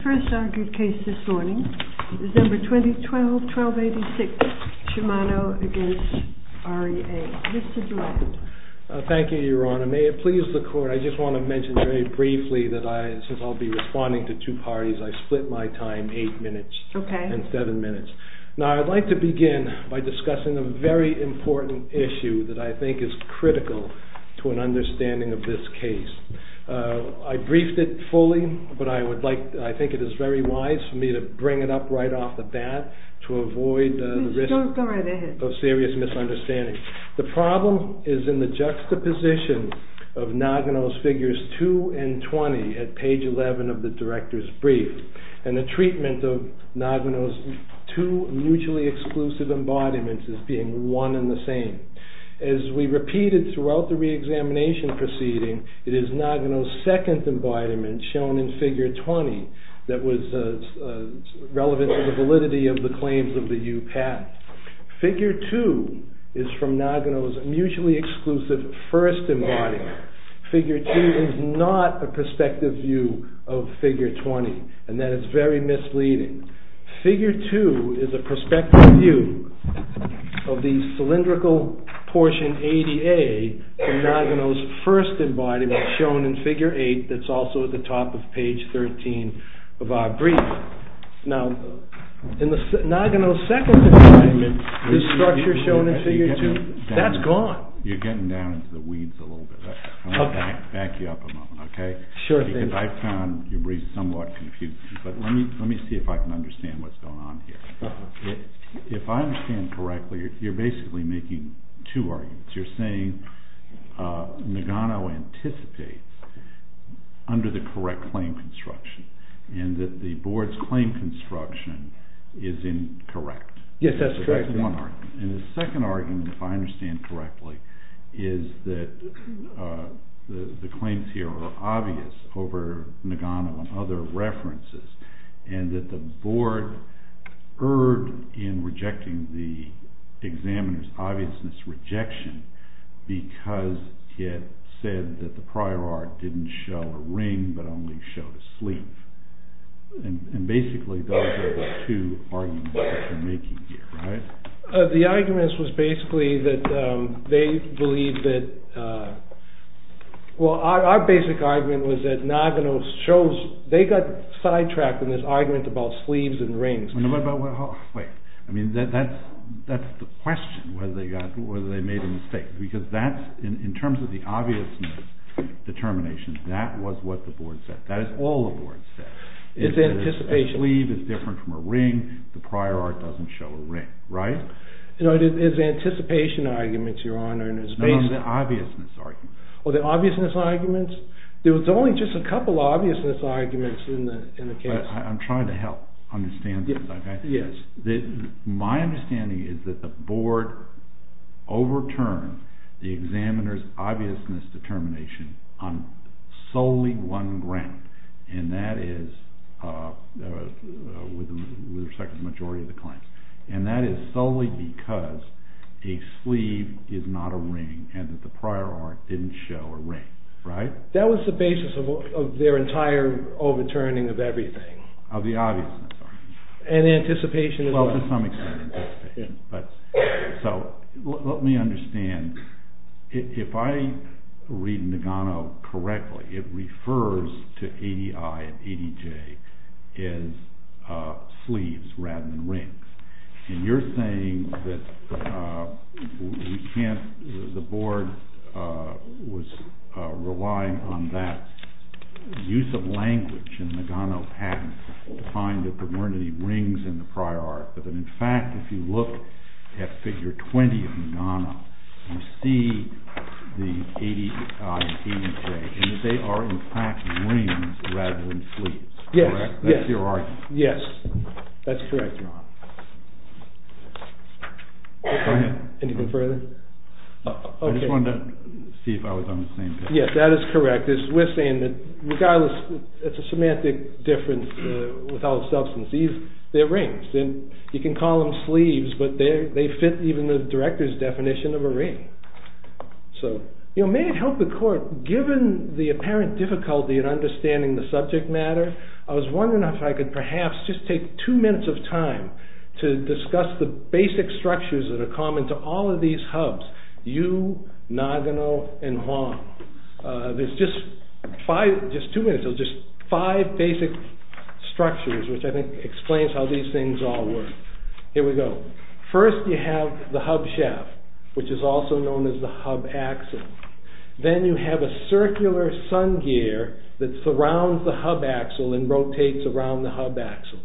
The first argued case this morning is No. 2012-1286 SHIMANO v. REA. Mr. Durant. Thank you, Your Honor. May it please the Court, I just want to mention very briefly that I, since I'll be responding to two parties, I split my time eight minutes and seven minutes. Now I'd like to begin by discussing a very important issue that I think is critical to an understanding of this case. I briefed it fully, but I think it is very wise for me to bring it up right off the bat to avoid the risk of serious misunderstanding. The problem is in the juxtaposition of Nagano's figures 2 and 20 at page 11 of the Director's Brief, and the treatment of Nagano's two mutually exclusive embodiments as being one and the same. As we repeated throughout the reexamination proceeding, it is Nagano's second embodiment shown in figure 20 that was relevant to the validity of the claims of the U. Patent. Figure 2 is from Nagano's mutually exclusive first embodiment. Figure 2 is not a perspective view of figure 20, and that is very misleading. Figure 2 is a perspective view of the cylindrical portion 80A from Nagano's first embodiment shown in figure 8 that's also at the top of page 13 of our brief. Now, in Nagano's second embodiment, this structure shown in figure 2, that's gone. You're getting down into the weeds a little bit. I'm going to back you up a moment, okay? Sure thing. Because I found your brief somewhat confusing, but let me see if I can understand what's going on here. If I understand correctly, you're basically making two arguments. You're saying Nagano anticipates under the correct claim construction, and that the board's claim construction is incorrect. Yes, that's correct. The second argument, if I understand correctly, is that the claims here are obvious over Nagano and other references, and that the board erred in rejecting the examiner's obviousness rejection because it said that the prior art didn't show a ring but only showed a sleeve. And basically those are the two arguments that you're making here, right? The arguments was basically that they believe that... well, our basic argument was that Nagano chose... they got sidetracked in this argument about sleeves and rings. I mean, that's the question, whether they made a mistake, because in terms of the obviousness determination, that was what the board said. That is all the board said. It's anticipation. The sleeve is different from a ring, the prior art doesn't show a ring, right? No, it's anticipation arguments, Your Honor. No, the obviousness arguments. Oh, the obviousness arguments? There was only just a couple of obviousness arguments in the case. I'm trying to help understand this. Yes. My understanding is that the board overturned the examiner's obviousness determination on solely one ground, and that is with respect to the majority of the claims. And that is solely because a sleeve is not a ring and that the prior art didn't show a ring, right? That was the basis of their entire overturning of everything. Of the obviousness argument. And the anticipation... Well, to some extent. So, let me understand. If I read Nagano correctly, it refers to ADI and ADJ as sleeves rather than rings. And you're saying that the board was relying on that use of language in the Nagano patent to find that there weren't any rings in the prior art. But in fact, if you look at figure 20 of Nagano, you see the ADI and ADJ, and they are in fact rings rather than sleeves. Yes. That's your argument. Yes. That's correct. Go ahead. Anything further? I just wanted to see if I was on the same page. Yes, that is correct. We're saying that regardless, it's a semantic difference with all the substance. These, they're rings. And you can call them sleeves, but they fit even the director's definition of a ring. So, you know, may it help the court, given the apparent difficulty in understanding the subject matter, I was wondering if I could perhaps just take two minutes of time to discuss the basic structures that are common to all of these hubs. Yu, Nagano, and Huang. There's just five, just two minutes, just five basic structures, which I think explains how these things all work. Here we go. First, you have the hub shaft, which is also known as the hub axle. Then you have a circular sun gear that surrounds the hub axle and rotates around the hub axle.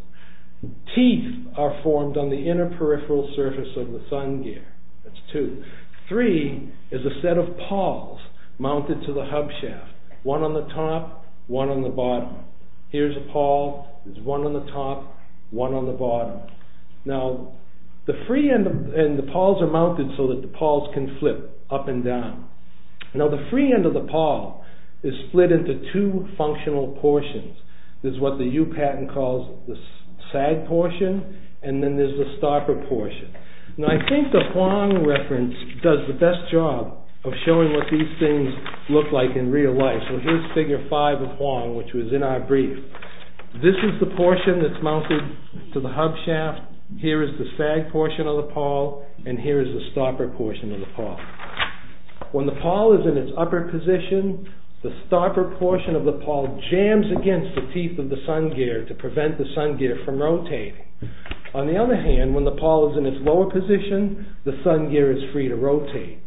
Teeth are formed on the inner peripheral surface of the sun gear. That's two. Three is a set of pawls mounted to the hub shaft, one on the top, one on the bottom. Here's a pawl. There's one on the top, one on the bottom. Now, the free end, and the pawls are mounted so that the pawls can flip up and down. Now, the free end of the pawl is split into two functional portions. There's what the Yu patent calls the sag portion, and then there's the starker portion. Now, I think the Huang reference does the best job of showing what these things look like in real life. So here's figure five of Huang, which was in our brief. This is the portion that's mounted to the hub shaft. Here is the sag portion of the pawl, and here is the starker portion of the pawl. When the pawl is in its upper position, the starker portion of the pawl jams against the teeth of the sun gear to prevent the sun gear from rotating. On the other hand, when the pawl is in its lower position, the sun gear is free to rotate.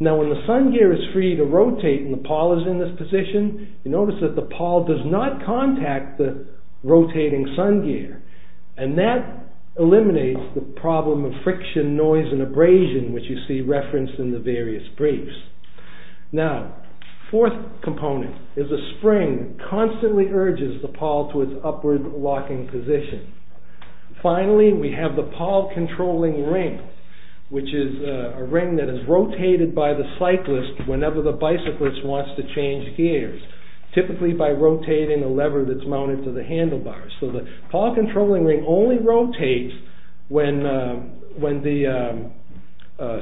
Now, when the sun gear is free to rotate and the pawl is in this position, you notice that the pawl does not contact the rotating sun gear, and that eliminates the problem of friction, noise, and abrasion, which you see referenced in the various briefs. Now, fourth component is the spring constantly urges the pawl to its upward locking position. Finally, we have the pawl controlling ring, which is a ring that is rotated by the cyclist whenever the bicyclist wants to change gears, typically by rotating a lever that's mounted to the handlebars. So the pawl controlling ring only rotates when the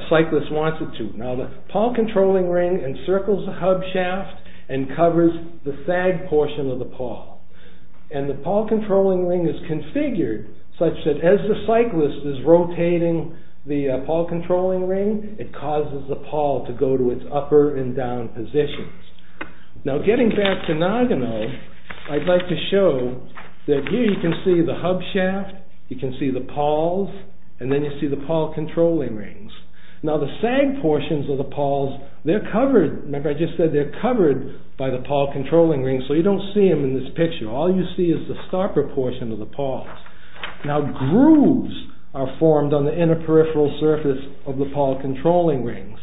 cyclist wants it to. Now, the pawl controlling ring encircles the hub shaft and covers the sag portion of the pawl. And the pawl controlling ring is configured such that as the cyclist is rotating the pawl controlling ring, it causes the pawl to go to its upper and down positions. Now, getting back to Nagano, I'd like to show that here you can see the hub shaft, you can see the pawls, and then you see the pawl controlling rings. Now, the sag portions of the pawls, they're covered, remember I just said they're covered by the pawl controlling ring, so you don't see them in this picture, all you see is the stopper portion of the pawls. Now, grooves are formed on the inner peripheral surface of the pawl controlling rings,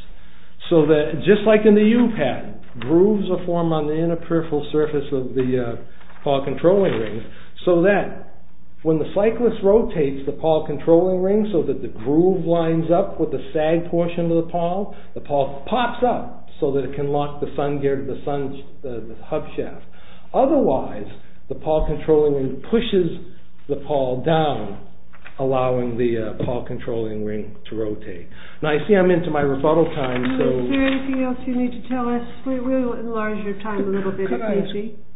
so that, just like in the U-pad, grooves are formed on the inner peripheral surface of the pawl controlling rings, so that when the cyclist rotates the pawl controlling ring so that the groove lines up with the sag portion of the pawl, the pawl pops up so that it can lock the hub shaft. Otherwise, the pawl controlling ring pushes the pawl down, allowing the pawl controlling ring to rotate. Now, I see I'm into my rebuttal time, so... Is there anything else you need to tell us? We will enlarge your time a little bit.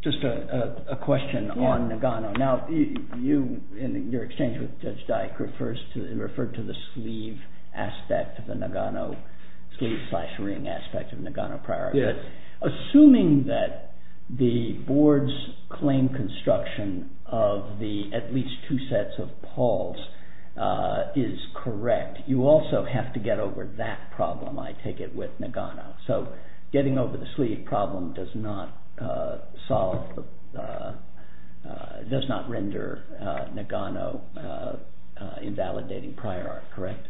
Just a question on Nagano. Now, you, in your exchange with Judge Dyke, referred to the sleeve aspect of the Nagano, sleeve slash ring aspect of Nagano priority. Assuming that the board's claim construction of the at least two sets of pawls is correct, you also have to get over that problem, I take it, with Nagano. So, getting over the sleeve problem does not render Nagano invalidating prior art, correct?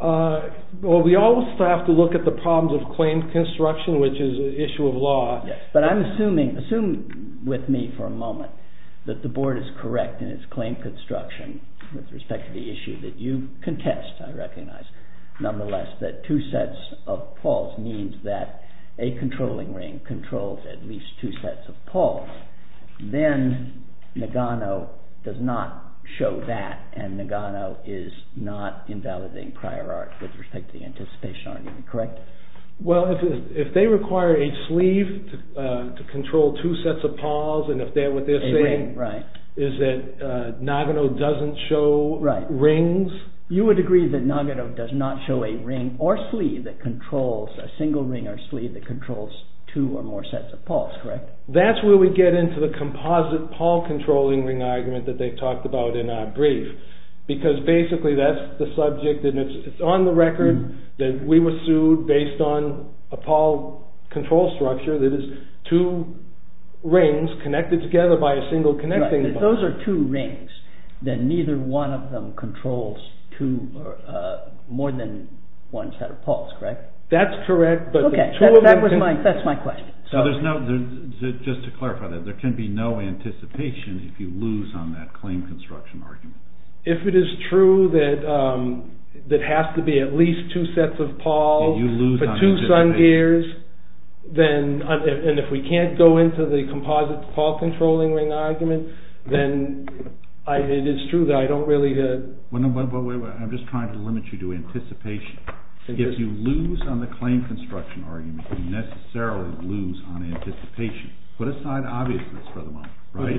Well, we also have to look at the problems of claim construction, which is an issue of law. But I'm assuming, assume with me for a moment, that the board is correct in its claim construction with respect to the issue that you contest, I recognize. Nonetheless, that two sets of pawls means that a controlling ring controls at least two sets of pawls. Then, Nagano does not show that, and Nagano is not invalidating prior art with respect to the anticipation argument, correct? Well, if they require a sleeve to control two sets of pawls, and if what they're saying is that Nagano doesn't show rings... You would agree that Nagano does not show a ring or sleeve that controls, a single ring or sleeve that controls two or more sets of pawls, correct? That's where we get into the composite pawl controlling ring argument that they've talked about in our brief, because basically that's the subject, and it's on the record that we were sued based on a pawl control structure that is two rings connected together by a single connecting bond. If those are two rings, then neither one of them controls more than one set of pawls, correct? That's correct, but the two of them... Okay, that's my question. Just to clarify that, there can be no anticipation if you lose on that claim construction argument? If it is true that it has to be at least two sets of pawls for two sun gears, and if we can't go into the composite pawl controlling ring argument, then it is true that I don't really... I'm just trying to limit you to anticipation. If you lose on the claim construction argument, you necessarily lose on anticipation. Put aside obviousness for the moment, right?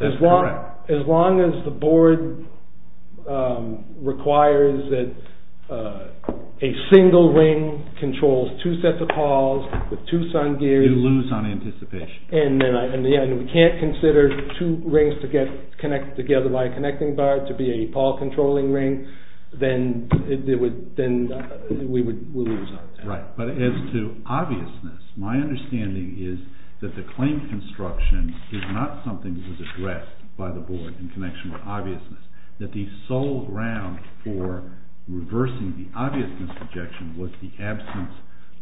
That's correct. As long as the board requires that a single ring controls two sets of pawls with two sun gears... You lose on anticipation. And we can't consider two rings to get connected together by a connecting bond to be a pawl controlling ring, then we would lose on that. Right, but as to obviousness, my understanding is that the claim construction is not something that was addressed by the board in connection with obviousness. That the sole ground for reversing the obviousness objection was the absence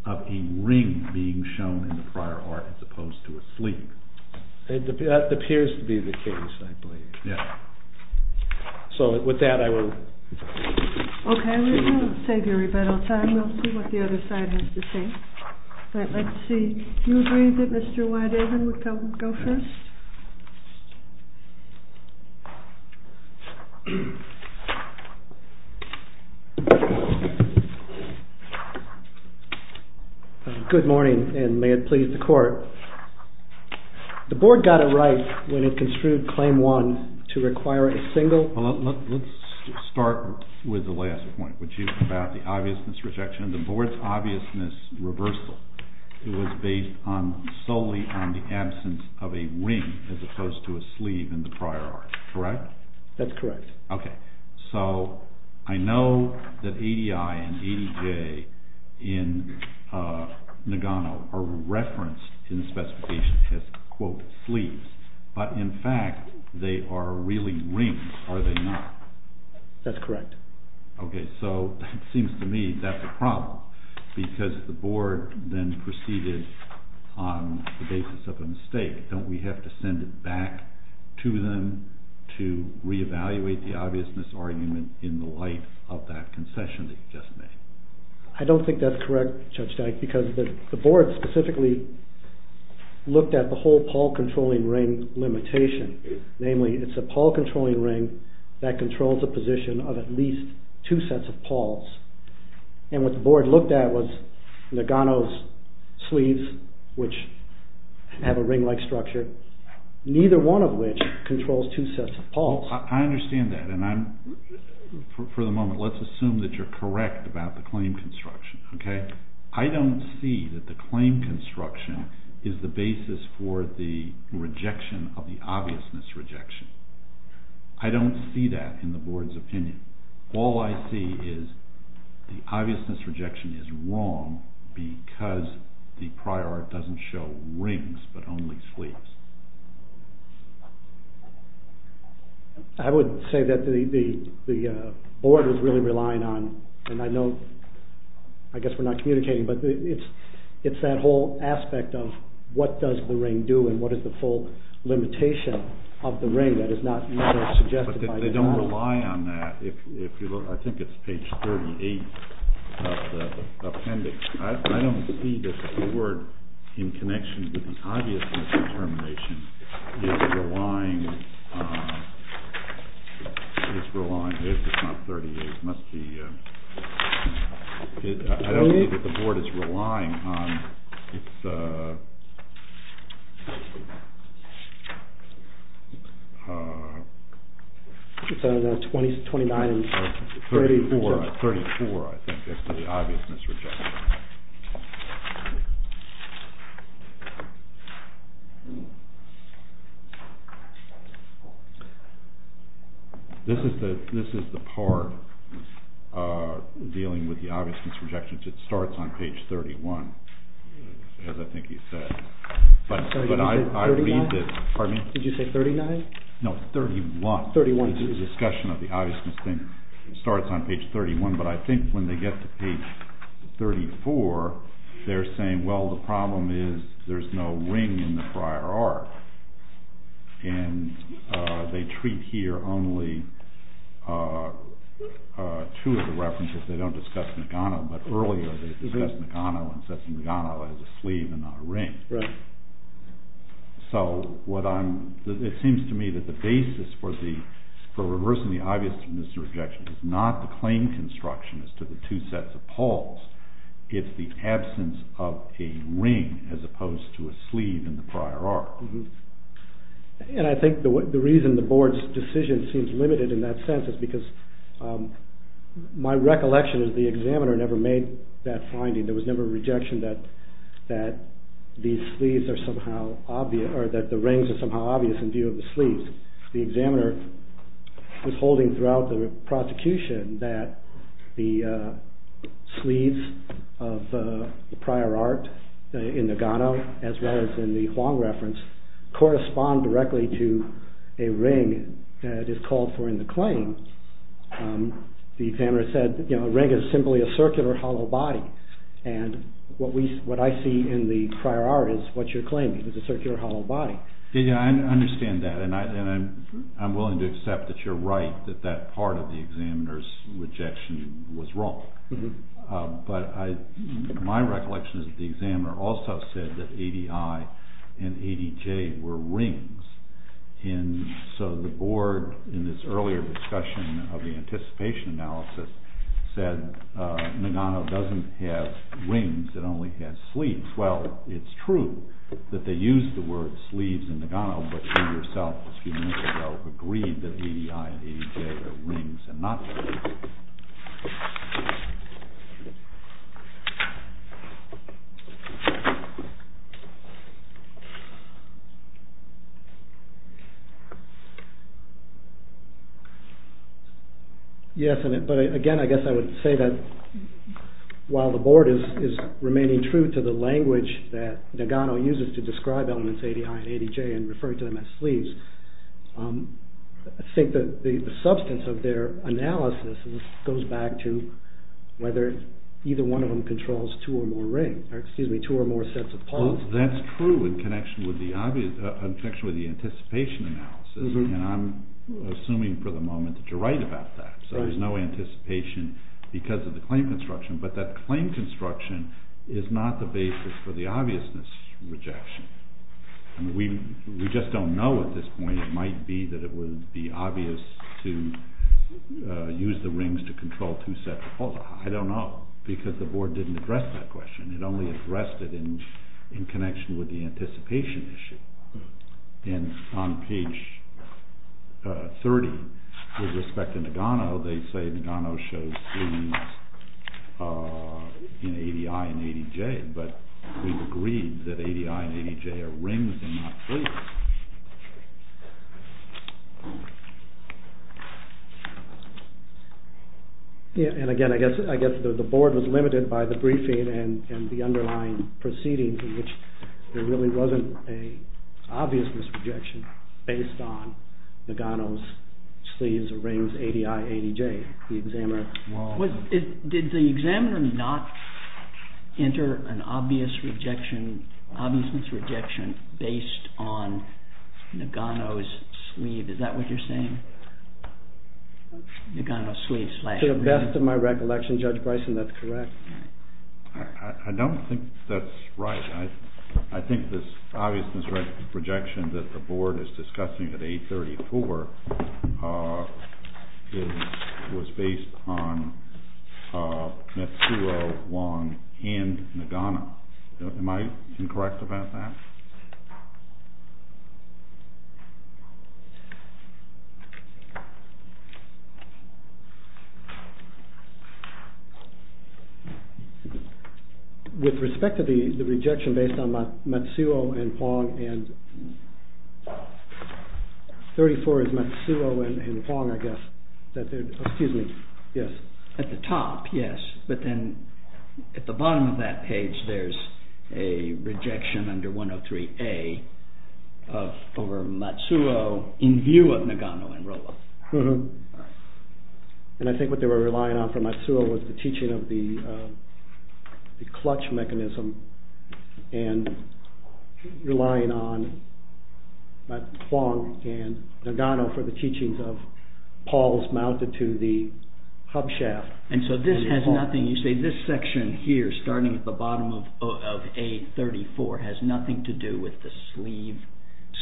of a ring being shown in the prior art as opposed to a sleeve. That appears to be the case, I believe. Yeah. So with that, I will... We'll see what the other side has to say. All right, let's see. Do you agree that Mr. Weidaven would go first? Good morning, and may it please the court. The board got it right when it construed claim one to require a single... Let's start with the last point, which is about the obviousness rejection. The board's obviousness reversal was based solely on the absence of a ring as opposed to a sleeve in the prior art, correct? That's correct. Okay, so I know that ADI and ADJ in Nagano are referenced in the specification as, quote, sleeves, but in fact they are really rings, are they not? That's correct. Okay, so it seems to me that's a problem because the board then proceeded on the basis of a mistake. Don't we have to send it back to them to reevaluate the obviousness argument in the light of that concession that you just made? I don't think that's correct, Judge Dyke, because the board specifically looked at the whole Paul controlling ring limitation. Namely, it's a Paul controlling ring that controls the position of at least two sets of Pauls. And what the board looked at was Nagano's sleeves, which have a ring-like structure, neither one of which controls two sets of Pauls. I understand that, and for the moment let's assume that you're correct about the claim construction, okay? I don't see that the claim construction is the basis for the rejection of the obviousness rejection. I don't see that in the board's opinion. All I see is the obviousness rejection is wrong because the prior art doesn't show rings but only sleeves. I would say that the board was really relying on, and I know, I guess we're not communicating, but it's that whole aspect of what does the ring do and what is the full limitation of the ring that is not suggested by the board. But they don't rely on that. I think it's page 38 of the appendix. I don't see that the board, in connection with the obviousness determination, is relying on – it's not 38, it must be – I don't see that the board is relying on its – It's on page 29. 34, I think, is the obviousness rejection. This is the part dealing with the obviousness rejection. It starts on page 31, as I think you said. Did you say 39? No, 31. The discussion of the obviousness thing starts on page 31, but I think when they get to page 34, they're saying, well, the problem is there's no ring in the prior art. And they treat here only two of the references. They don't discuss Nagano, but earlier they discussed Nagano and said Nagano has a sleeve and not a ring. Right. So, it seems to me that the basis for reversing the obviousness rejection is not the claim construction as to the two sets of poles. It's the absence of a ring as opposed to a sleeve in the prior art. And I think the reason the board's decision seems limited in that sense is because my recollection is the examiner never made that finding. There was never a rejection that the rings are somehow obvious in view of the sleeves. The examiner was holding throughout the prosecution that the sleeves of the prior art in Nagano, as well as in the Huang reference, correspond directly to a ring that is called for in the claim. The examiner said, you know, a ring is simply a circular hollow body. And what I see in the prior art is what you're claiming, it's a circular hollow body. Yeah, I understand that, and I'm willing to accept that you're right, that that part of the examiner's rejection was wrong. But my recollection is that the examiner also said that ADI and ADJ were rings. And so the board, in this earlier discussion of the anticipation analysis, said Nagano doesn't have rings, it only has sleeves. Well, it's true that they used the word sleeves in Nagano, but you yourself a few minutes ago agreed that ADI and ADJ are rings and not rings. Yes, but again, I guess I would say that while the board is remaining true to the language that Nagano uses to describe elements ADI and ADJ and referring to them as sleeves, I think that the substance of their analysis goes back to whether either one of them controls two or more rings, or excuse me, two or more sets of palms. That's true in connection with the anticipation analysis, and I'm assuming for the moment that you're right about that. So there's no anticipation because of the claim construction, but that claim construction is not the basis for the obviousness rejection. We just don't know at this point, it might be that it would be obvious to use the rings to control two sets of palms. Well, I don't know, because the board didn't address that question, it only addressed it in connection with the anticipation issue. And on page 30, with respect to Nagano, they say Nagano shows sleeves in ADI and ADJ, but we've agreed that ADI and ADJ are rings and not sleeves. And again, I guess the board was limited by the briefing and the underlying proceedings in which there really wasn't an obviousness rejection based on Nagano's sleeves or rings, ADI, ADJ. Did the examiner not enter an obviousness rejection based on Nagano's sleeve? Is that what you're saying? To the best of my recollection, Judge Bryson, that's correct. I don't think that's right. I think this obviousness rejection that the board is discussing at 834 was based on Mitsuo Wong and Nagano. Am I incorrect about that? With respect to the rejection based on Mitsuo and Wong, 34 is Mitsuo and Wong, I guess. At the top, yes, but then at the bottom of that page there's a rejection under 103A over Mitsuo in view of Nagano and Rola. And I think what they were relying on for Mitsuo was the teaching of the clutch mechanism and relying on Wong and Nagano for the teachings of pawls mounted to the hub shaft. And so this has nothing, you say this section here starting at the bottom of A34 has nothing to do with the sleeve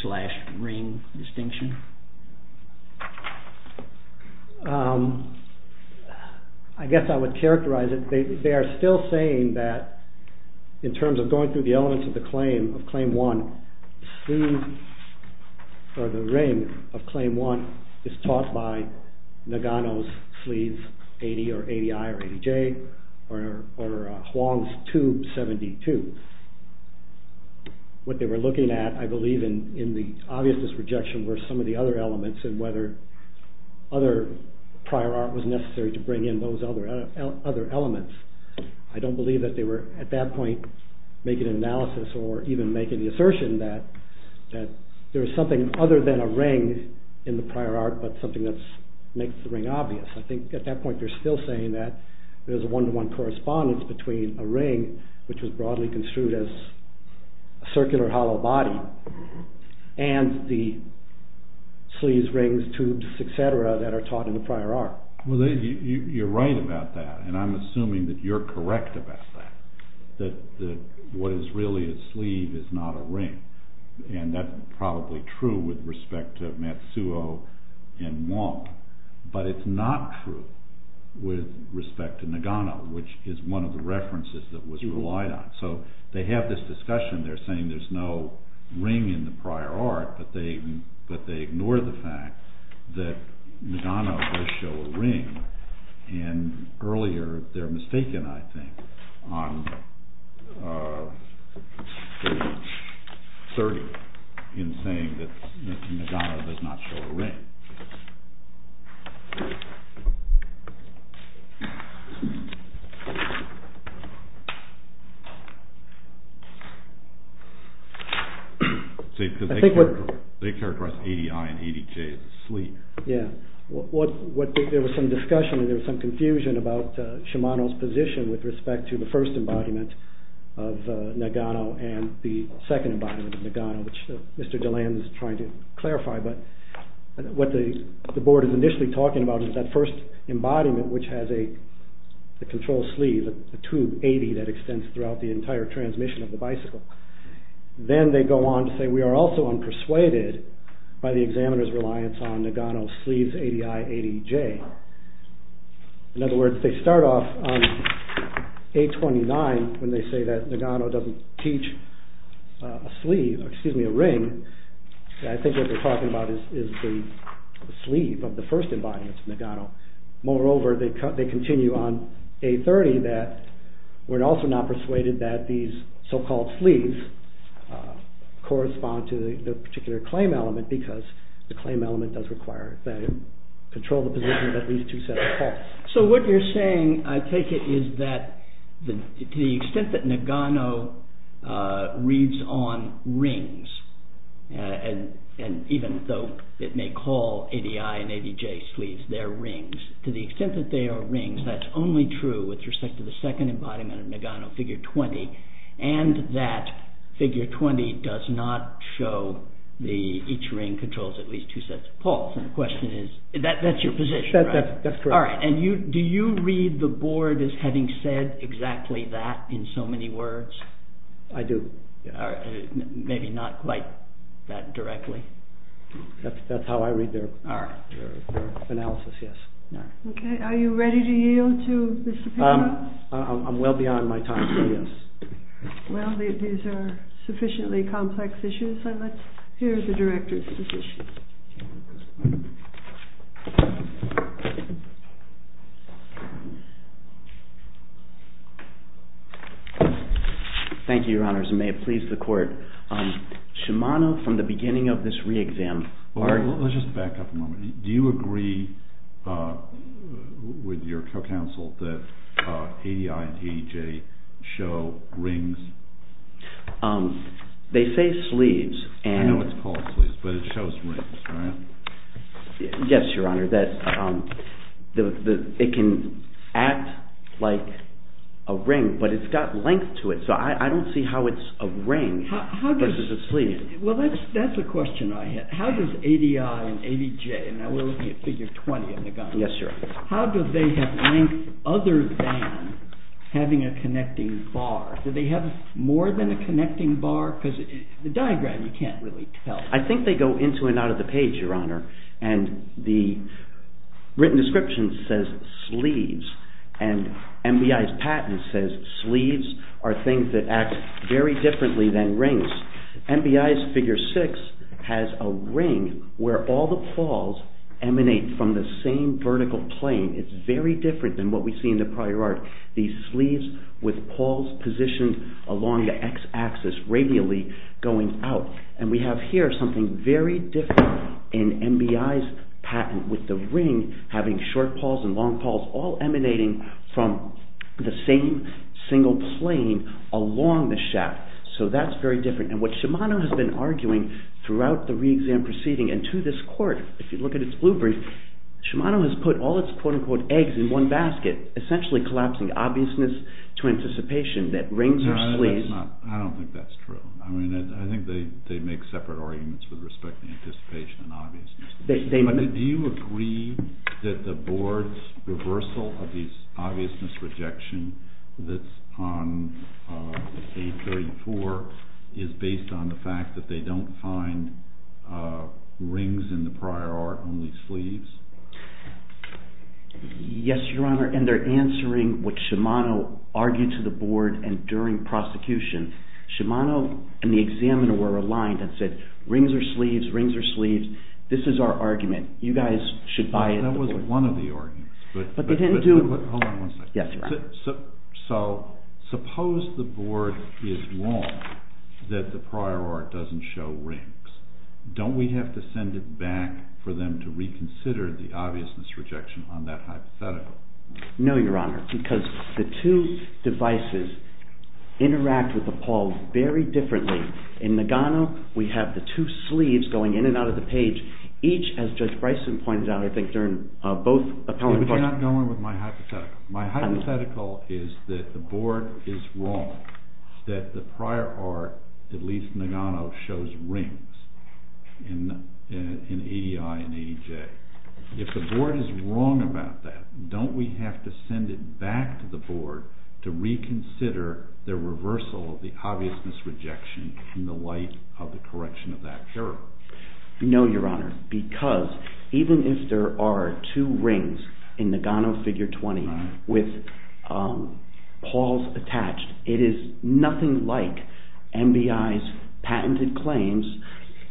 slash ring distinction? I guess I would characterize it, they are still saying that in terms of going through the elements of the claim of Claim 1, the ring of Claim 1 is taught by Nagano's sleeve 80 or ADI or ADJ or Wong's tube 72. What they were looking at I believe in the obviousness rejection were some of the other elements and whether other prior art was necessary to bring in those other elements. I don't believe that they were at that point making an analysis or even making the assertion that there is something other than a ring in the prior art but something that makes the ring obvious. I think at that point they're still saying that there's a one-to-one correspondence between a ring which was broadly construed as a circular hollow body and the sleeves, rings, tubes, etc. that are taught in the prior art. You're right about that and I'm assuming that you're correct about that, that what is really a sleeve is not a ring and that's probably true with respect to Matsuo and Wong but it's not true with respect to Nagano which is one of the references that was relied on. So they have this discussion, they're saying there's no ring in the prior art but they ignore the fact that Nagano does show a ring and earlier they're mistaken I think on the surrogate in saying that Nagano does not show a ring. They characterize ADI and ADJ as a sleeve. Yeah, there was some discussion and there was some confusion about Shimano's position with respect to the first embodiment of Nagano and the second embodiment of Nagano which Mr. DeLand is trying to clarify but what the board is initially talking about is that first embodiment which has a control sleeve, a tube 80 that extends throughout the entire transmission of the bicycle. Then they go on to say we are also unpersuaded by the examiner's reliance on Nagano's sleeves, ADI, ADJ. In other words, they start off on 829 when they say that Nagano doesn't teach a sleeve, excuse me a ring. I think what they're talking about is the sleeve of the first embodiment of Nagano. Moreover, they continue on 830 that we're also not persuaded that these so-called sleeves correspond to the particular claim element because the claim element does require that you control the position of at least two sets of cloths. So what you're saying I take it is that to the extent that Nagano reads on rings and even though it may call ADI and ADJ sleeves their rings, to the extent that they are rings that's only true with respect to the second embodiment of Nagano figure 20 and that figure 20 does not show each ring controls at least two sets of cloths. That's your position, right? That's correct. Do you read the board as having said exactly that in so many words? I do. Maybe not quite that directly? That's how I read their analysis, yes. Okay, are you ready to yield to Mr. Pinkham? I'm well beyond my time, so yes. Well, these are sufficiently complex issues and let's hear the director's position. Thank you, your honors, and may it please the court. Shimano, from the beginning of this re-exam. Let's just back up a moment. Do you agree with your co-counsel that ADI and ADJ show rings? They say sleeves. I know it's called sleeves, but it shows rings, right? Yes, your honor, it can act like a ring, but it's got length to it, so I don't see how it's a ring versus a sleeve. Well, that's a question I had. How does ADI and ADJ, and now we're looking at figure 20 on the gun. Yes, your honor. How do they have length other than having a connecting bar? Do they have more than a connecting bar? Because the diagram, you can't really tell. I think they go into and out of the page, your honor, and the written description says sleeves, and MBI's patent says sleeves are things that act very differently than rings. MBI's figure six has a ring where all the pawls emanate from the same vertical plane. It's very different than what we see in the prior art. These sleeves with pawls positioned along the x-axis radially going out, and we have here something very different in MBI's patent with the ring having short pawls and long pawls all emanating from the same single plane along the shaft, so that's very different. And what Shimano has been arguing throughout the re-exam proceeding and to this court, if you look at its blue brief, Shimano has put all its quote-unquote eggs in one basket, essentially collapsing obviousness to anticipation that rings are sleeves. I don't think that's true. I think they make separate arguments with respect to anticipation and obviousness. But do you agree that the board's reversal of the obviousness rejection that's on page 34 is based on the fact that they don't find rings in the prior art, only sleeves? Yes, your honor, and they're answering what Shimano argued to the board and during prosecution. Shimano and the examiner were aligned and said rings are sleeves, rings are sleeves. This is our argument. You guys should buy it. That was one of the arguments, but hold on one second. Yes, your honor. So suppose the board is wrong that the prior art doesn't show rings. Don't we have to send it back for them to reconsider the obviousness rejection on that hypothetical? No, your honor, because the two devices interact with the pawls very differently. In Nagano, we have the two sleeves going in and out of the page. Each, as Judge Bryson pointed out, I think during both appellant questions You're not going with my hypothetical. My hypothetical is that the board is wrong that the prior art, at least in Nagano, shows rings in EDI and EJ. If the board is wrong about that, don't we have to send it back to the board to reconsider the reversal of the obviousness rejection in the light of the correction of that error? No, your honor, because even if there are two rings in Nagano figure 20 with pawls attached, it is nothing like MBI's patented claims,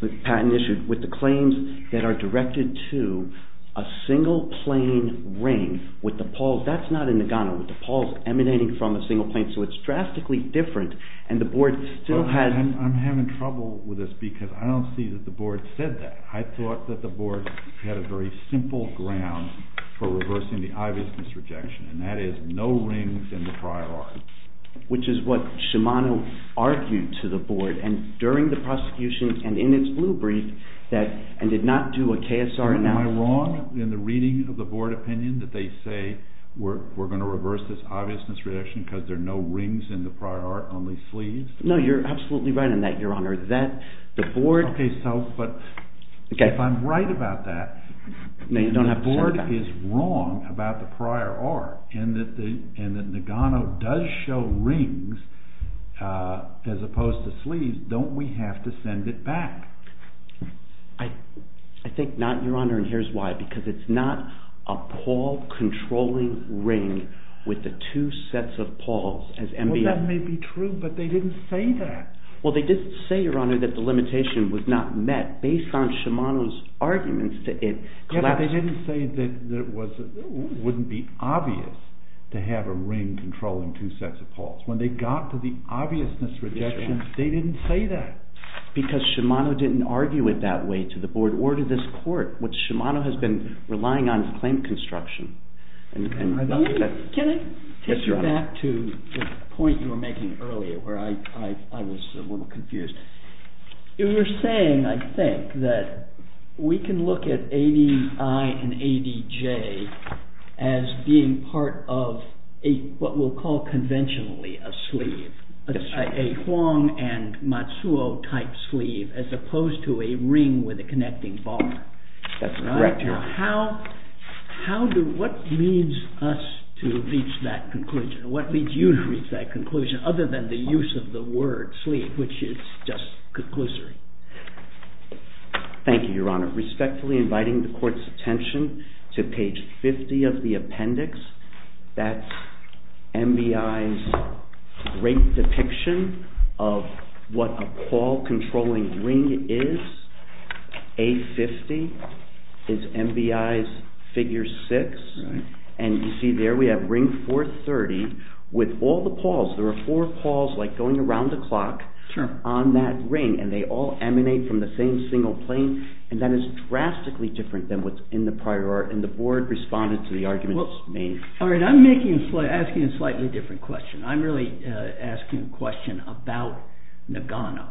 with the claims that are directed to a single plain ring with the pawls. That's not in Nagano, with the pawls emanating from a single plain, so it's drastically different. I'm having trouble with this because I don't see that the board said that. I thought that the board had a very simple ground for reversing the obviousness rejection, and that is no rings in the prior art. Which is what Shimano argued to the board, and during the prosecution, and in its blue brief, and did not do a KSR analysis. Am I wrong in the reading of the board opinion that they say we're going to reverse this obviousness rejection because there are no rings in the prior art, only sleeves? No, you're absolutely right on that, your honor. If I'm right about that, and the board is wrong about the prior art, and that Nagano does show rings as opposed to sleeves, don't we have to send it back? I think not, your honor, and here's why. Because it's not a pawl-controlling ring with the two sets of pawls. Well, that may be true, but they didn't say that. Well, they did say, your honor, that the limitation was not met. Based on Shimano's arguments, it collapsed. Yeah, but they didn't say that it wouldn't be obvious to have a ring controlling two sets of pawls. When they got to the obviousness rejection, they didn't say that. Because Shimano didn't argue it that way to the board or to this court, which Shimano has been relying on to claim construction. Can I take you back to the point you were making earlier where I was a little confused? You were saying, I think, that we can look at ADI and ADJ as being part of what we'll call conventionally a sleeve. A Huang and Matsuo type sleeve as opposed to a ring with a connecting bar. That's correct, your honor. What leads us to reach that conclusion? What leads you to reach that conclusion other than the use of the word sleeve, which is just conclusory? Thank you, your honor. Respectfully inviting the court's attention to page 50 of the appendix. That's MBI's great depiction of what a pawl controlling ring is. A50 is MBI's figure six. You see there we have ring 430 with all the pawls. There are four pawls going around the clock on that ring. They all emanate from the same single plane. That is drastically different than what's in the prior. The board responded to the argument. I'm asking a slightly different question. I'm really asking a question about Nagano.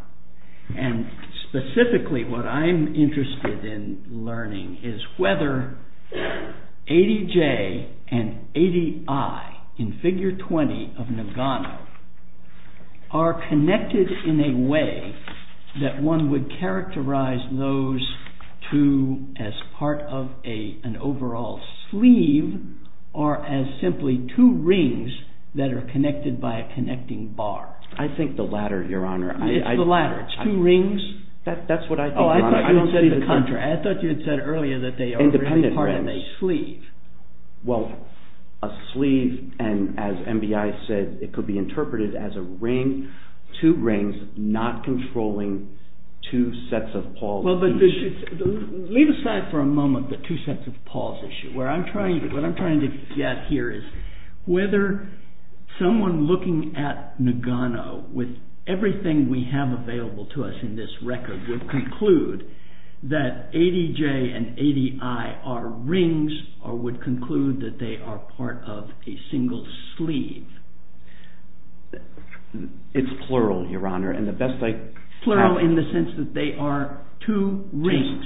Specifically what I'm interested in learning is whether ADJ and ADI in figure 20 of Nagano are connected in a way that one would characterize those two as part of an overall sleeve or as simply two rings that are connected by a connecting bar. I think the latter, your honor. It's the latter. It's two rings? That's what I think, your honor. Oh, I thought you had said the contrary. I thought you had said earlier that they are really part of a sleeve. Well, a sleeve, and as MBI said, it could be interpreted as a ring, two rings not controlling two sets of pawls. Leave aside for a moment the two sets of pawls issue. What I'm trying to get here is whether someone looking at Nagano with everything we have available to us in this record would conclude that ADJ and ADI are rings or would conclude that they are part of a single sleeve. It's plural, your honor. Plural in the sense that they are two rings.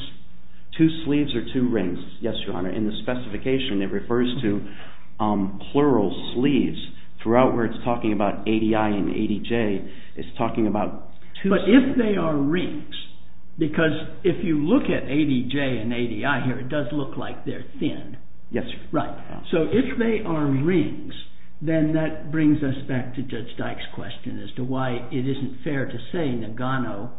Two sleeves or two rings. Yes, your honor. In the specification, it refers to plural sleeves throughout where it's talking about ADI and ADJ. It's talking about two sleeves. But if they are rings, because if you look at ADJ and ADI here, it does look like they're thin. Yes, your honor. Right. So if they are rings, then that brings us back to Judge Dyke's question as to why it isn't fair to say Nagano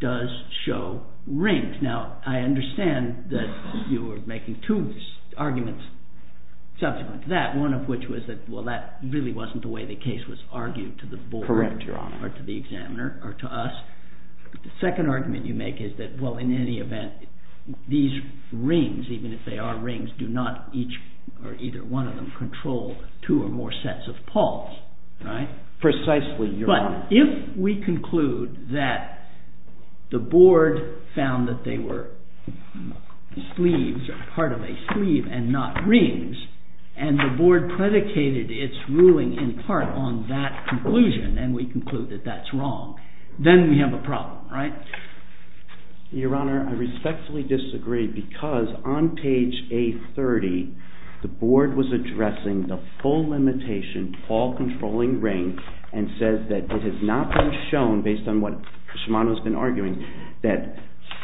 does show rings. Now, I understand that you were making two arguments subsequent to that, one of which was that, well, that really wasn't the way the case was argued to the board. Correct, your honor. Or to the examiner or to us. The second argument you make is that, well, in any event, these rings, even if they are rings, do not each or either one of them control two or more sets of pawls. Precisely, your honor. Your honor, I respectfully disagree because on page A30, the board was addressing the full limitation, pawl-controlling ring, and says that it has not been shown, based on what Shimano has been arguing, that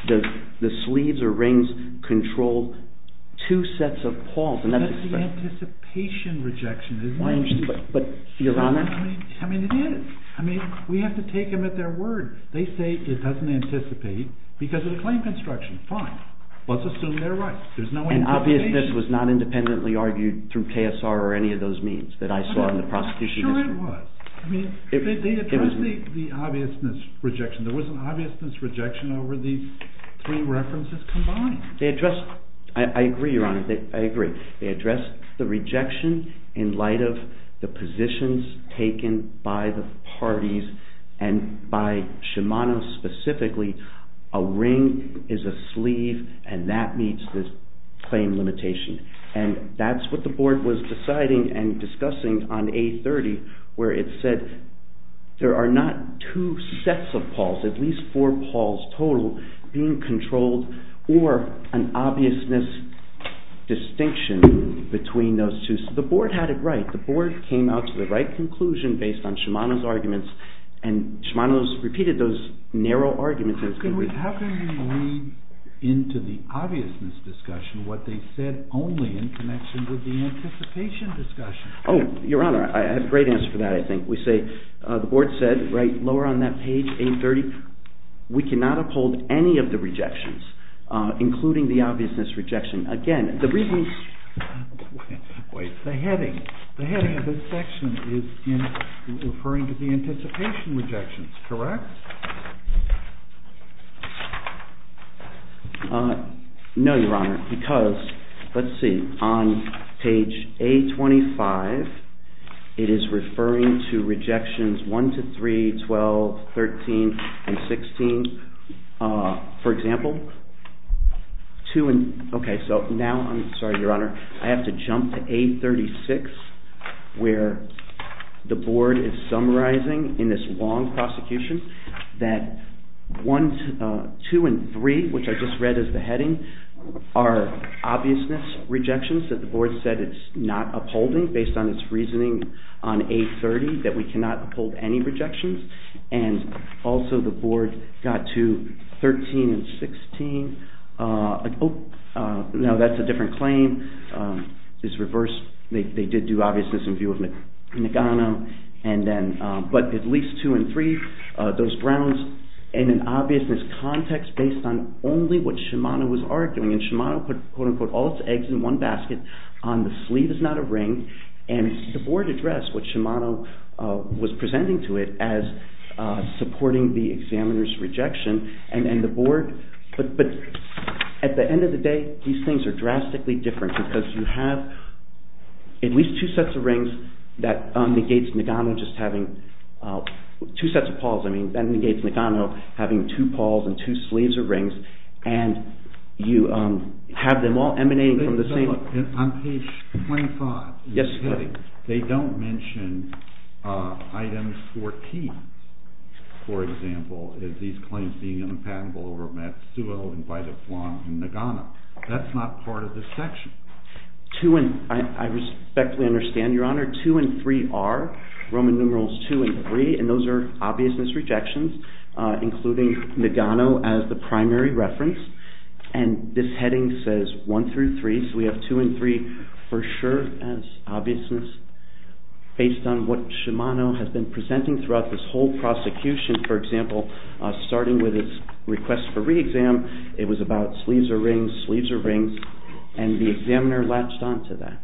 the sleeves or rings control two sets of pawls. That's the anticipation rejection, isn't it? Your honor. I mean, it is. I mean, we have to take them at their word. They say it doesn't anticipate because of the claim construction. Fine. Let's assume they're right. There's no anticipation. And obviousness was not independently argued through TSR or any of those means that I saw in the prosecution history. Sure it was. I mean, they addressed the obviousness rejection. There was an obviousness rejection over these three references combined. They addressed... I agree, your honor. I agree. They addressed the rejection in light of the positions taken by the parties and by Shimano specifically. A ring is a sleeve and that meets this claim limitation. And that's what the board was deciding and discussing on A30 where it said there are not two sets of pawls, at least four pawls total, being controlled or an obviousness distinction between those two. The board had it right. The board came out to the right conclusion based on Shimano's arguments and Shimano's repeated those narrow arguments. How can we read into the obviousness discussion what they said only in connection with the anticipation discussion? Oh, your honor, I have a great answer for that, I think. We say the board said, right lower on that page, A30, we cannot uphold any of the rejections, including the obviousness rejection. Again, the reason... Wait, wait. The heading. The heading of this section is referring to the anticipation rejections, correct? No, your honor, because, let's see, on page A25, it is referring to rejections 1 to 3, 12, 13, and 16. For example, 2 and... Okay, so now I'm... Sorry, your honor. I have to jump to A36 where the board is summarizing in this long prosecution that 2 and 3, which I just read as the heading, are obviousness rejections that the board said it's not upholding based on its reasoning on A30 that we cannot uphold any rejections. And also the board got to 13 and 16. Now that's a different claim. It's reversed. They did do obviousness in view of Nagano. But at least 2 and 3, those grounds in an obviousness context based on only what Shimano was arguing. And Shimano put, quote unquote, all its eggs in one basket. On the sleeve is not a ring. And the board addressed what Shimano was presenting to it as supporting the examiner's rejection. And the board... But at the end of the day, these things are drastically different because you have at least 2 sets of rings that negates Nagano just having 2 sets of paws. I mean, that negates Nagano having 2 paws and 2 sleeves of rings. And you have them all emanating from the same... They don't mention items 14, for example, as these claims being unpatentable over Matsuo and by the flan in Nagano. That's not part of this section. I respectfully understand, Your Honor. 2 and 3 are. Roman numerals 2 and 3. And those are obviousness rejections, including Nagano as the primary reference. And this heading says 1 through 3. So we have 2 and 3 for sure as obviousness based on what Shimano has been presenting throughout this whole prosecution. For example, starting with its request for re-exam, it was about sleeves or rings, sleeves or rings. And the examiner latched onto that.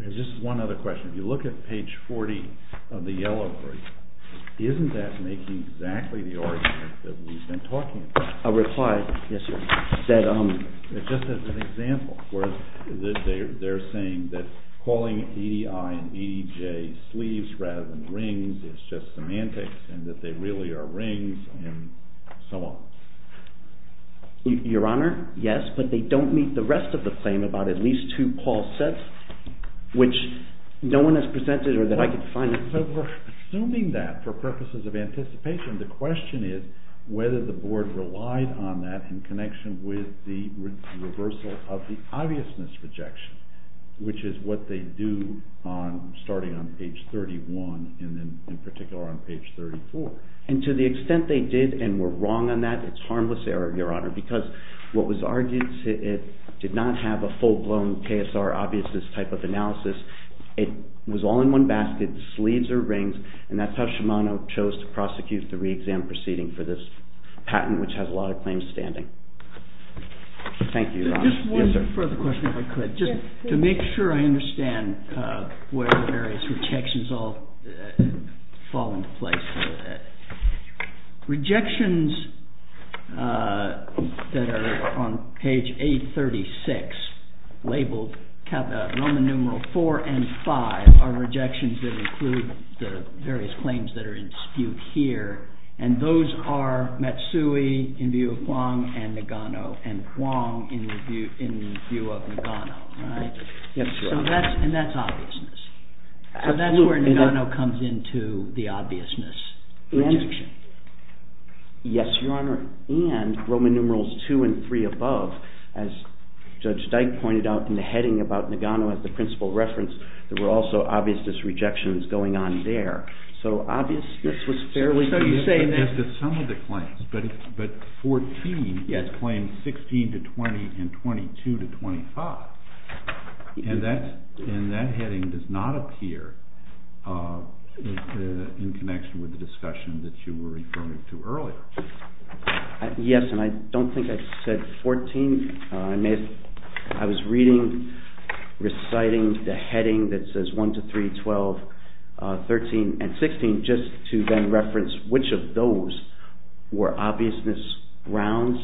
Just one other question. If you look at page 40 of the yellow brief, isn't that making exactly the argument that we've been talking about? A reply? Yes, Your Honor. Just as an example, they're saying that calling EDI and EDJ sleeves rather than rings is just semantics and that they really are rings and so on. Your Honor, yes, but they don't meet the rest of the claim about at least two Paul sets, which no one has presented or that I could find. So we're assuming that for purposes of anticipation. The question is whether the board relied on that in connection with the reversal of the obviousness rejection, which is what they do starting on page 31 and then in particular on page 34. And to the extent they did and were wrong on that, it's harmless error, Your Honor, because what was argued did not have a full-blown KSR obviousness type of analysis. It was all in one basket, sleeves or rings, and that's how Shimano chose to prosecute the re-exam proceeding for this patent, which has a lot of claims standing. Thank you, Your Honor. Just one further question, if I could, just to make sure I understand where the various rejections all fall into place. Rejections that are on page 836 labeled Roman numeral 4 and 5 are rejections that include the various claims that are in dispute here, and those are Matsui in view of Huang and Nagano, and Huang in view of Nagano, right? Yes, Your Honor. And that's obviousness. So that's where Nagano comes into the obviousness rejection. Yes, Your Honor, and Roman numerals 2 and 3 above, as Judge Dyke pointed out in the heading about Nagano as the principal reference, there were also obviousness rejections going on there. So obviousness was fairly... Some of the claims, but 14 is claimed 16 to 20 and 22 to 25, and that heading does not appear in connection with the discussion that you were referring to earlier. Yes, and I don't think I said 14. I was reading, reciting the heading that says 1 to 3, 12, 13, and 16 just to then reference which of those were obviousness grounds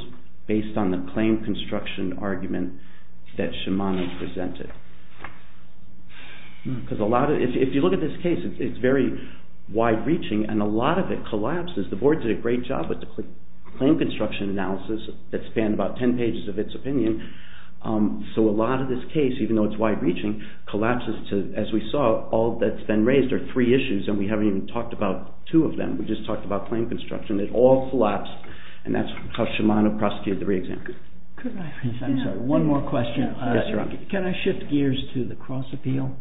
based on the claim construction argument that Shimano presented. If you look at this case, it's very wide-reaching, and a lot of it collapses. The board did a great job with the claim construction analysis that spanned about 10 pages of its opinion. So a lot of this case, even though it's wide-reaching, collapses to, as we saw, all that's been raised are three issues, and we haven't even talked about two of them. We just talked about claim construction. It all collapsed, and that's how Shimano prosecuted the re-examination. One more question. Yes, Your Honor. Can I shift gears to the cross-appeal?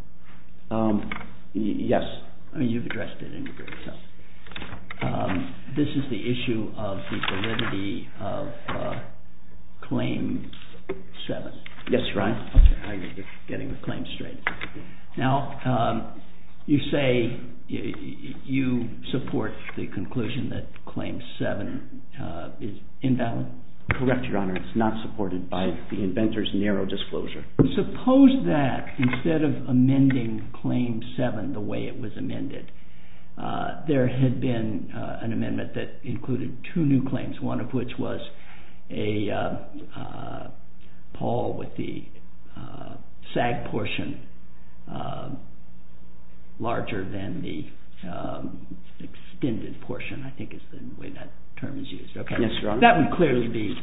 Yes. You've addressed it in your brief. This is the issue of the validity of Claim 7. Yes, Your Honor. Okay, I get it. Getting the claim straight. Now, you say you support the conclusion that Claim 7 is invalid? Correct, Your Honor. It's not supported by the inventor's narrow disclosure. Suppose that instead of amending Claim 7 the way it was amended, there had been an amendment that included two new claims, one of which was a poll with the SAG portion larger than the extended portion, I think is the way that term is used. Yes, Your Honor. That would clearly be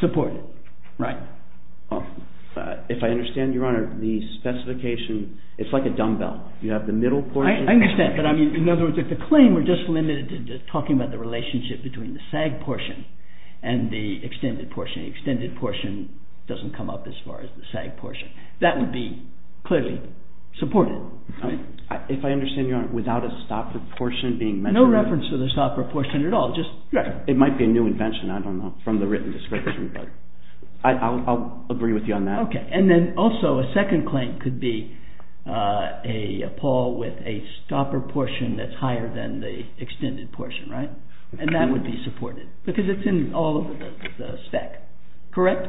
supported. Right. If I understand, Your Honor, the specification, it's like a dumbbell. You have the middle portion. I understand, but in other words, if the claim were just limited to talking about the relationship between the SAG portion and the extended portion, the extended portion doesn't come up as far as the SAG portion. That would be clearly supported. If I understand, Your Honor, without a stopper portion being mentioned? There's no reference to the stopper portion at all. It might be a new invention. I don't know from the written description, but I'll agree with you on that. Okay, and then also a second claim could be a poll with a stopper portion that's higher than the extended portion, right? And that would be supported because it's in all of the spec. Correct?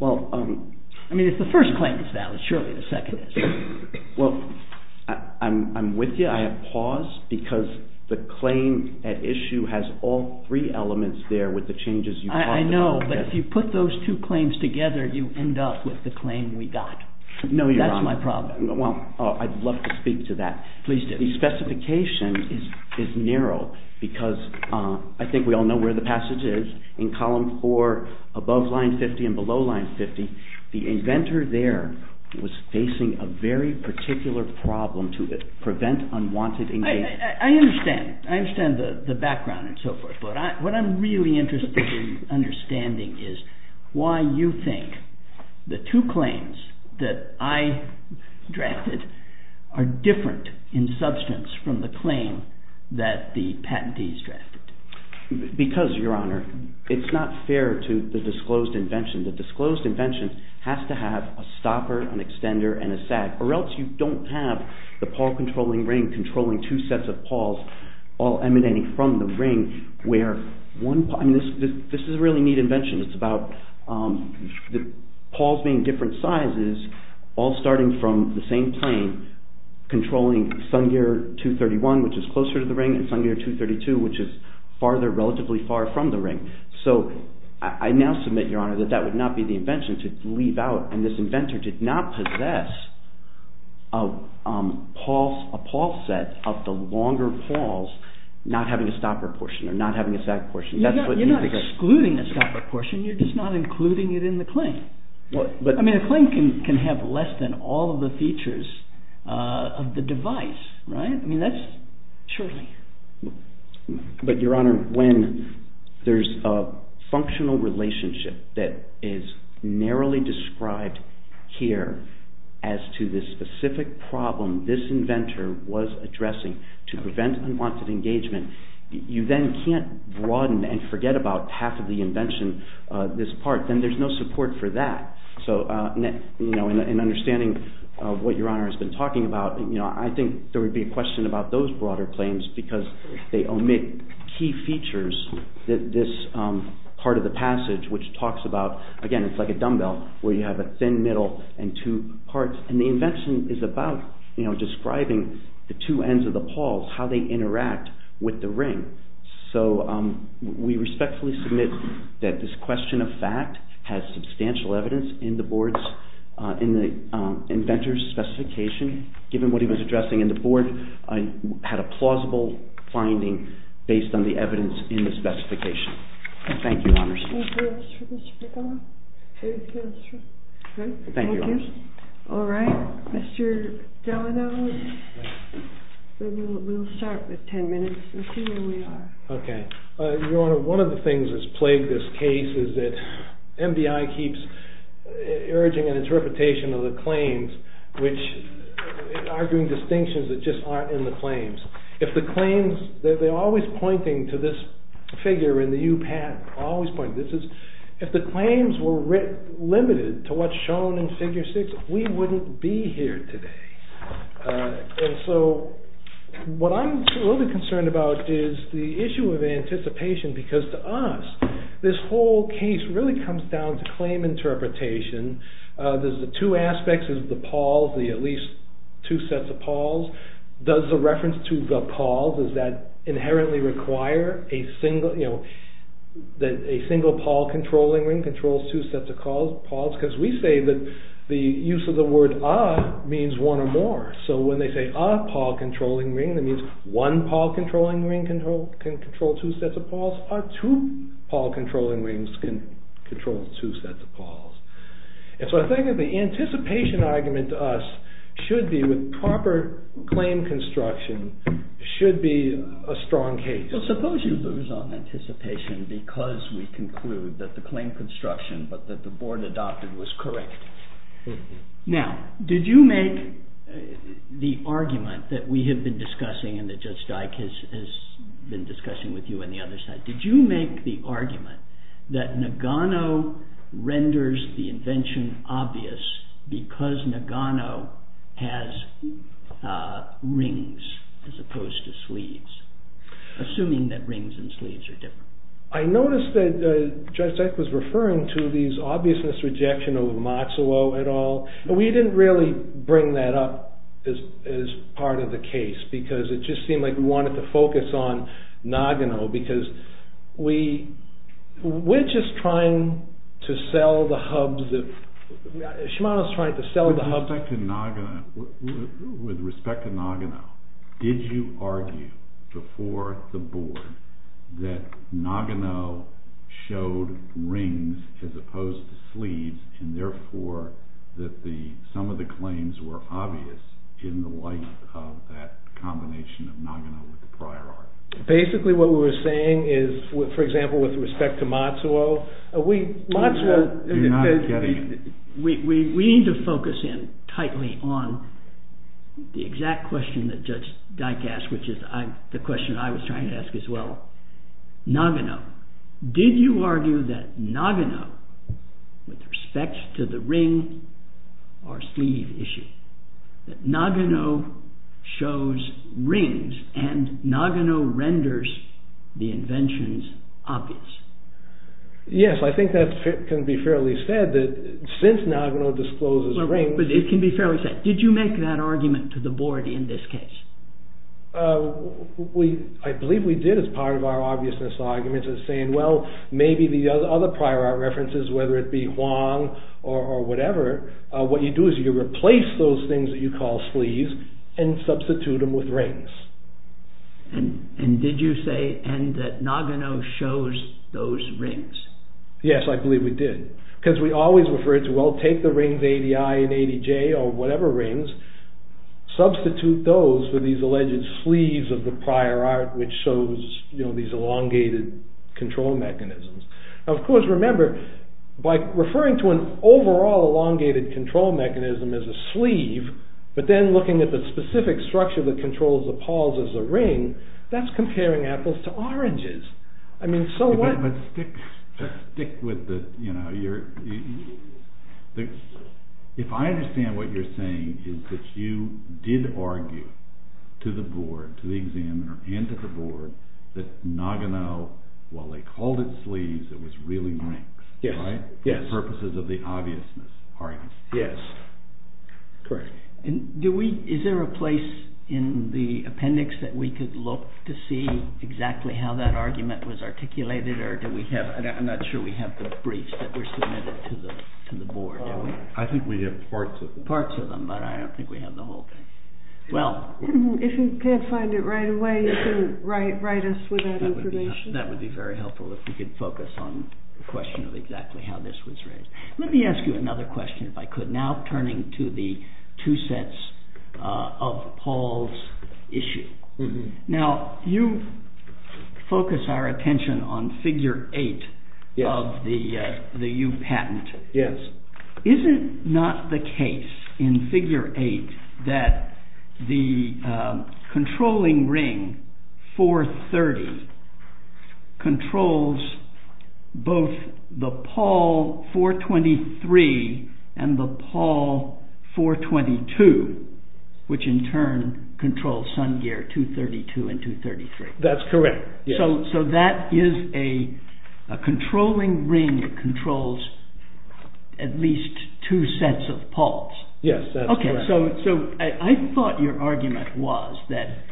I mean, if the first claim is valid, surely the second is. Well, I'm with you. I have pause because the claim at issue has all three elements there with the changes you talked about. I know, but if you put those two claims together, you end up with the claim we got. No, Your Honor. That's my problem. Well, I'd love to speak to that. Please do. The specification is narrow because I think we all know where the passage is. In column 4, above line 50 and below line 50, the inventor there was facing a very particular problem to prevent unwanted engagement. I understand. I understand the background and so forth. But what I'm really interested in understanding is why you think the two claims that I drafted are different in substance from the claim that the patentees drafted. Because, Your Honor, it's not fair to the disclosed invention. The disclosed invention has to have a stopper, an extender, and a sag. Or else you don't have the PAW controlling ring controlling two sets of PAWs all emanating from the ring. This is a really neat invention. It's about the PAWs being different sizes, all starting from the same plane, controlling Sungear 231, which is closer to the ring, and Sungear 232, which is farther, relatively far from the ring. So I now submit, Your Honor, that that would not be the invention to leave out. And this inventor did not possess a PAW set of the longer PAWs not having a stopper portion or not having a sag portion. You're not excluding a stopper portion. You're just not including it in the claim. I mean, a claim can have less than all of the features of the device, right? I mean, that's surely. But, Your Honor, when there's a functional relationship that is narrowly described here as to the specific problem this inventor was addressing to prevent unwanted engagement, you then can't broaden and forget about half of the invention, this part. Then there's no support for that. So in understanding what Your Honor has been talking about, I think there would be a question about those broader claims because they omit key features that this part of the passage, which talks about, again, it's like a dumbbell where you have a thin middle and two parts. And the invention is about describing the two ends of the PAWs, how they interact with the ring. So we respectfully submit that this question of fact has substantial evidence in the inventor's specification, given what he was addressing. And the board had a plausible finding based on the evidence in the specification. Thank you, Your Honor. Thank you, Mr. McDonough. Thank you, Your Honor. All right. Mr. Delgado, we'll start with 10 minutes and see where we are. Okay. Your Honor, one of the things that's plagued this case is that MBI keeps urging an interpretation of the claims, arguing distinctions that just aren't in the claims. They're always pointing to this figure in the UPAT, always pointing to this. If the claims were limited to what's shown in Figure 6, we wouldn't be here today. And so what I'm really concerned about is the issue of anticipation because to us, this whole case really comes down to claim interpretation. There's the two aspects of the PAWs, the at least two sets of PAWs. Does the reference to the PAWs, does that inherently require a single PAW controlling ring controls two sets of PAWs? Because we say that the use of the word a means one or more. So when they say a PAW controlling ring, that means one PAW controlling ring can control two sets of PAWs. Or two PAW controlling rings can control two sets of PAWs. And so I think that the anticipation argument to us should be with proper claim construction should be a strong case. Well, suppose you lose on anticipation because we conclude that the claim construction but that the board adopted was correct. Now, did you make the argument that we have been discussing and that Judge Dyke has been discussing with you on the other side. Did you make the argument that Nagano renders the invention obvious because Nagano has rings as opposed to sleeves? Assuming that rings and sleeves are different. I noticed that Judge Dyke was referring to these obviousness rejection of Matsuo et al. We didn't really bring that up as part of the case because it just seemed like we wanted to focus on Nagano. With respect to Nagano, did you argue before the board that Nagano showed rings as opposed to sleeves and therefore that some of the claims were obvious in the light of that combination of Nagano with the prior art? Basically, what we were saying is, for example, with respect to Matsuo, we need to focus in tightly on the exact question that Judge Dyke asked, which is the question I was trying to ask as well. Nagano, did you argue that Nagano, with respect to the ring or sleeve issue, that Nagano shows rings and Nagano renders the inventions obvious? Yes, I think that can be fairly said that since Nagano discloses rings. It can be fairly said. Did you make that argument to the board in this case? I believe we did as part of our obviousness arguments as saying, well, maybe the other prior art references, whether it be Huang or whatever, what you do is you replace those things that you call sleeves and substitute them with rings. Did you say that Nagano shows those rings? Yes, I believe we did because we always referred to, well, take the rings ADI and ADJ or whatever rings, substitute those with these alleged sleeves of the prior art, which shows these elongated control mechanisms. Of course, remember, by referring to an overall elongated control mechanism as a sleeve, but then looking at the specific structure that controls the paws as a ring, that's comparing apples to oranges. If I understand what you're saying is that you did argue to the board, to the examiner and to the board, that Nagano, while they called it sleeves, it was really rings for purposes of the obviousness arguments. Yes, correct. Is there a place in the appendix that we could look to see exactly how that argument was articulated? I'm not sure we have the briefs that were submitted to the board. I think we have parts of them. Parts of them, but I don't think we have the whole thing. If you can't find it right away, you can write us with that information. That would be very helpful if we could focus on the question of exactly how this was raised. Let me ask you another question, if I could. Now, turning to the two sets of Paul's issue. Now, you focus our attention on figure eight of the U patent. Is it not the case in figure eight that the controlling ring 430 controls both the Paul 423 and the Paul 422, which in turn controls sun gear 232 and 233? That's correct. So that is a controlling ring that controls at least two sets of Pauls. Yes, that's correct. I thought your argument was that,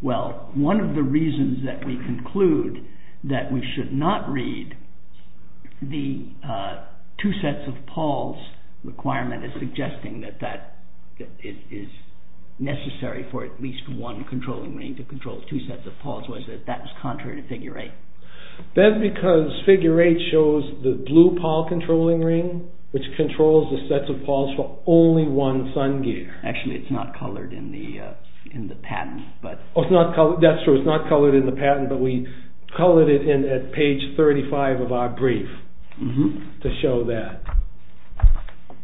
well, one of the reasons that we conclude that we should not read the two sets of Paul's requirement as suggesting that it is necessary for at least one controlling ring to control two sets of Pauls was that that was contrary to figure eight. That's because figure eight shows the blue Paul controlling ring, which controls the sets of Paul's for only one sun gear. Actually, it's not colored in the patent. That's true, it's not colored in the patent, but we colored it in at page 35 of our brief to show that.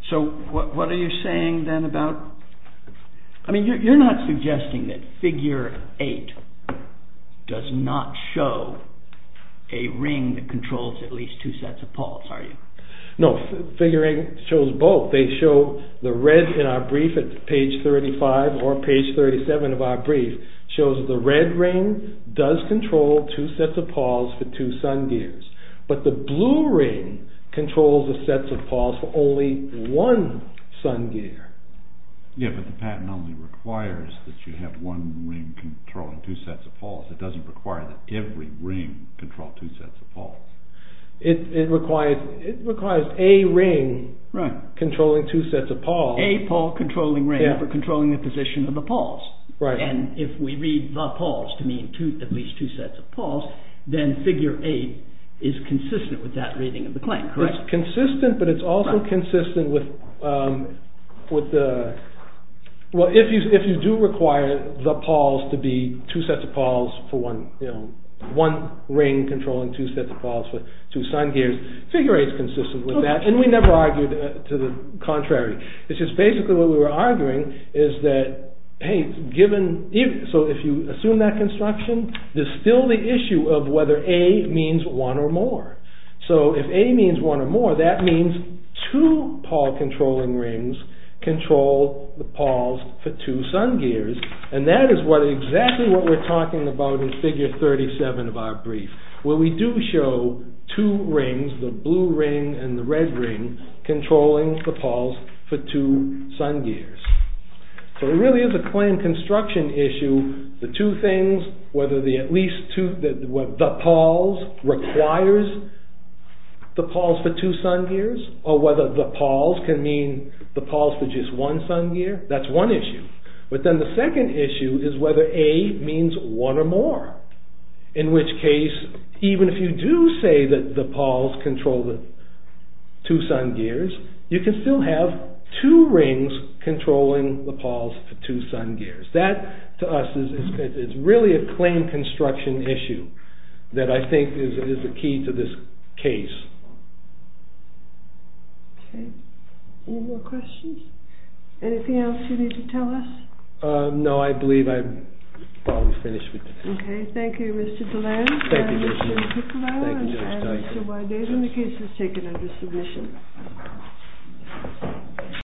So what are you saying then about, I mean, you're not suggesting that figure eight does not show a ring that controls at least two sets of Pauls, are you? No, figure eight shows both. They show the red in our brief at page 35 or page 37 of our brief shows the red ring does control two sets of Pauls for two sun gears, but the blue ring controls the sets of Pauls for only one sun gear. Yeah, but the patent only requires that you have one ring controlling two sets of Pauls. It doesn't require that every ring control two sets of Pauls. It requires a ring controlling two sets of Pauls. A Paul controlling ring for controlling the position of the Pauls. Right. And if we read the Pauls to mean at least two sets of Pauls, then figure eight is consistent with that reading of the claim, correct? It's consistent, but it's also consistent with the, well, if you do require the Pauls to be two sets of Pauls for one, you know, one ring controlling two sets of Pauls for two sun gears, figure eight is consistent with that. And we never argued to the contrary. It's just basically what we were arguing is that, hey, given, so if you assume that construction, there's still the issue of whether A means one or more. So if A means one or more, that means two Paul controlling rings control the Pauls for two sun gears. And that is what exactly what we're talking about in figure 37 of our brief, where we do show two rings, the blue ring and the red ring controlling the Pauls for two sun gears. So it really is a claim construction issue. The two things, whether the at least two, the Pauls requires the Pauls for two sun gears or whether the Pauls can mean the Pauls for just one sun gear, that's one issue. But then the second issue is whether A means one or more, in which case, even if you do say that the Pauls control the two sun gears, you can still have two rings controlling the Pauls for two sun gears. That to us is really a claim construction issue that I think is the key to this case. Okay. Any more questions? Anything else you need to tell us? No, I believe I'm probably finished with today. Okay. Thank you, Mr. Deland. Thank you very much. And Mr. Piccolo. Thank you very much. And Mr. Wyden. And the case is taken under submission.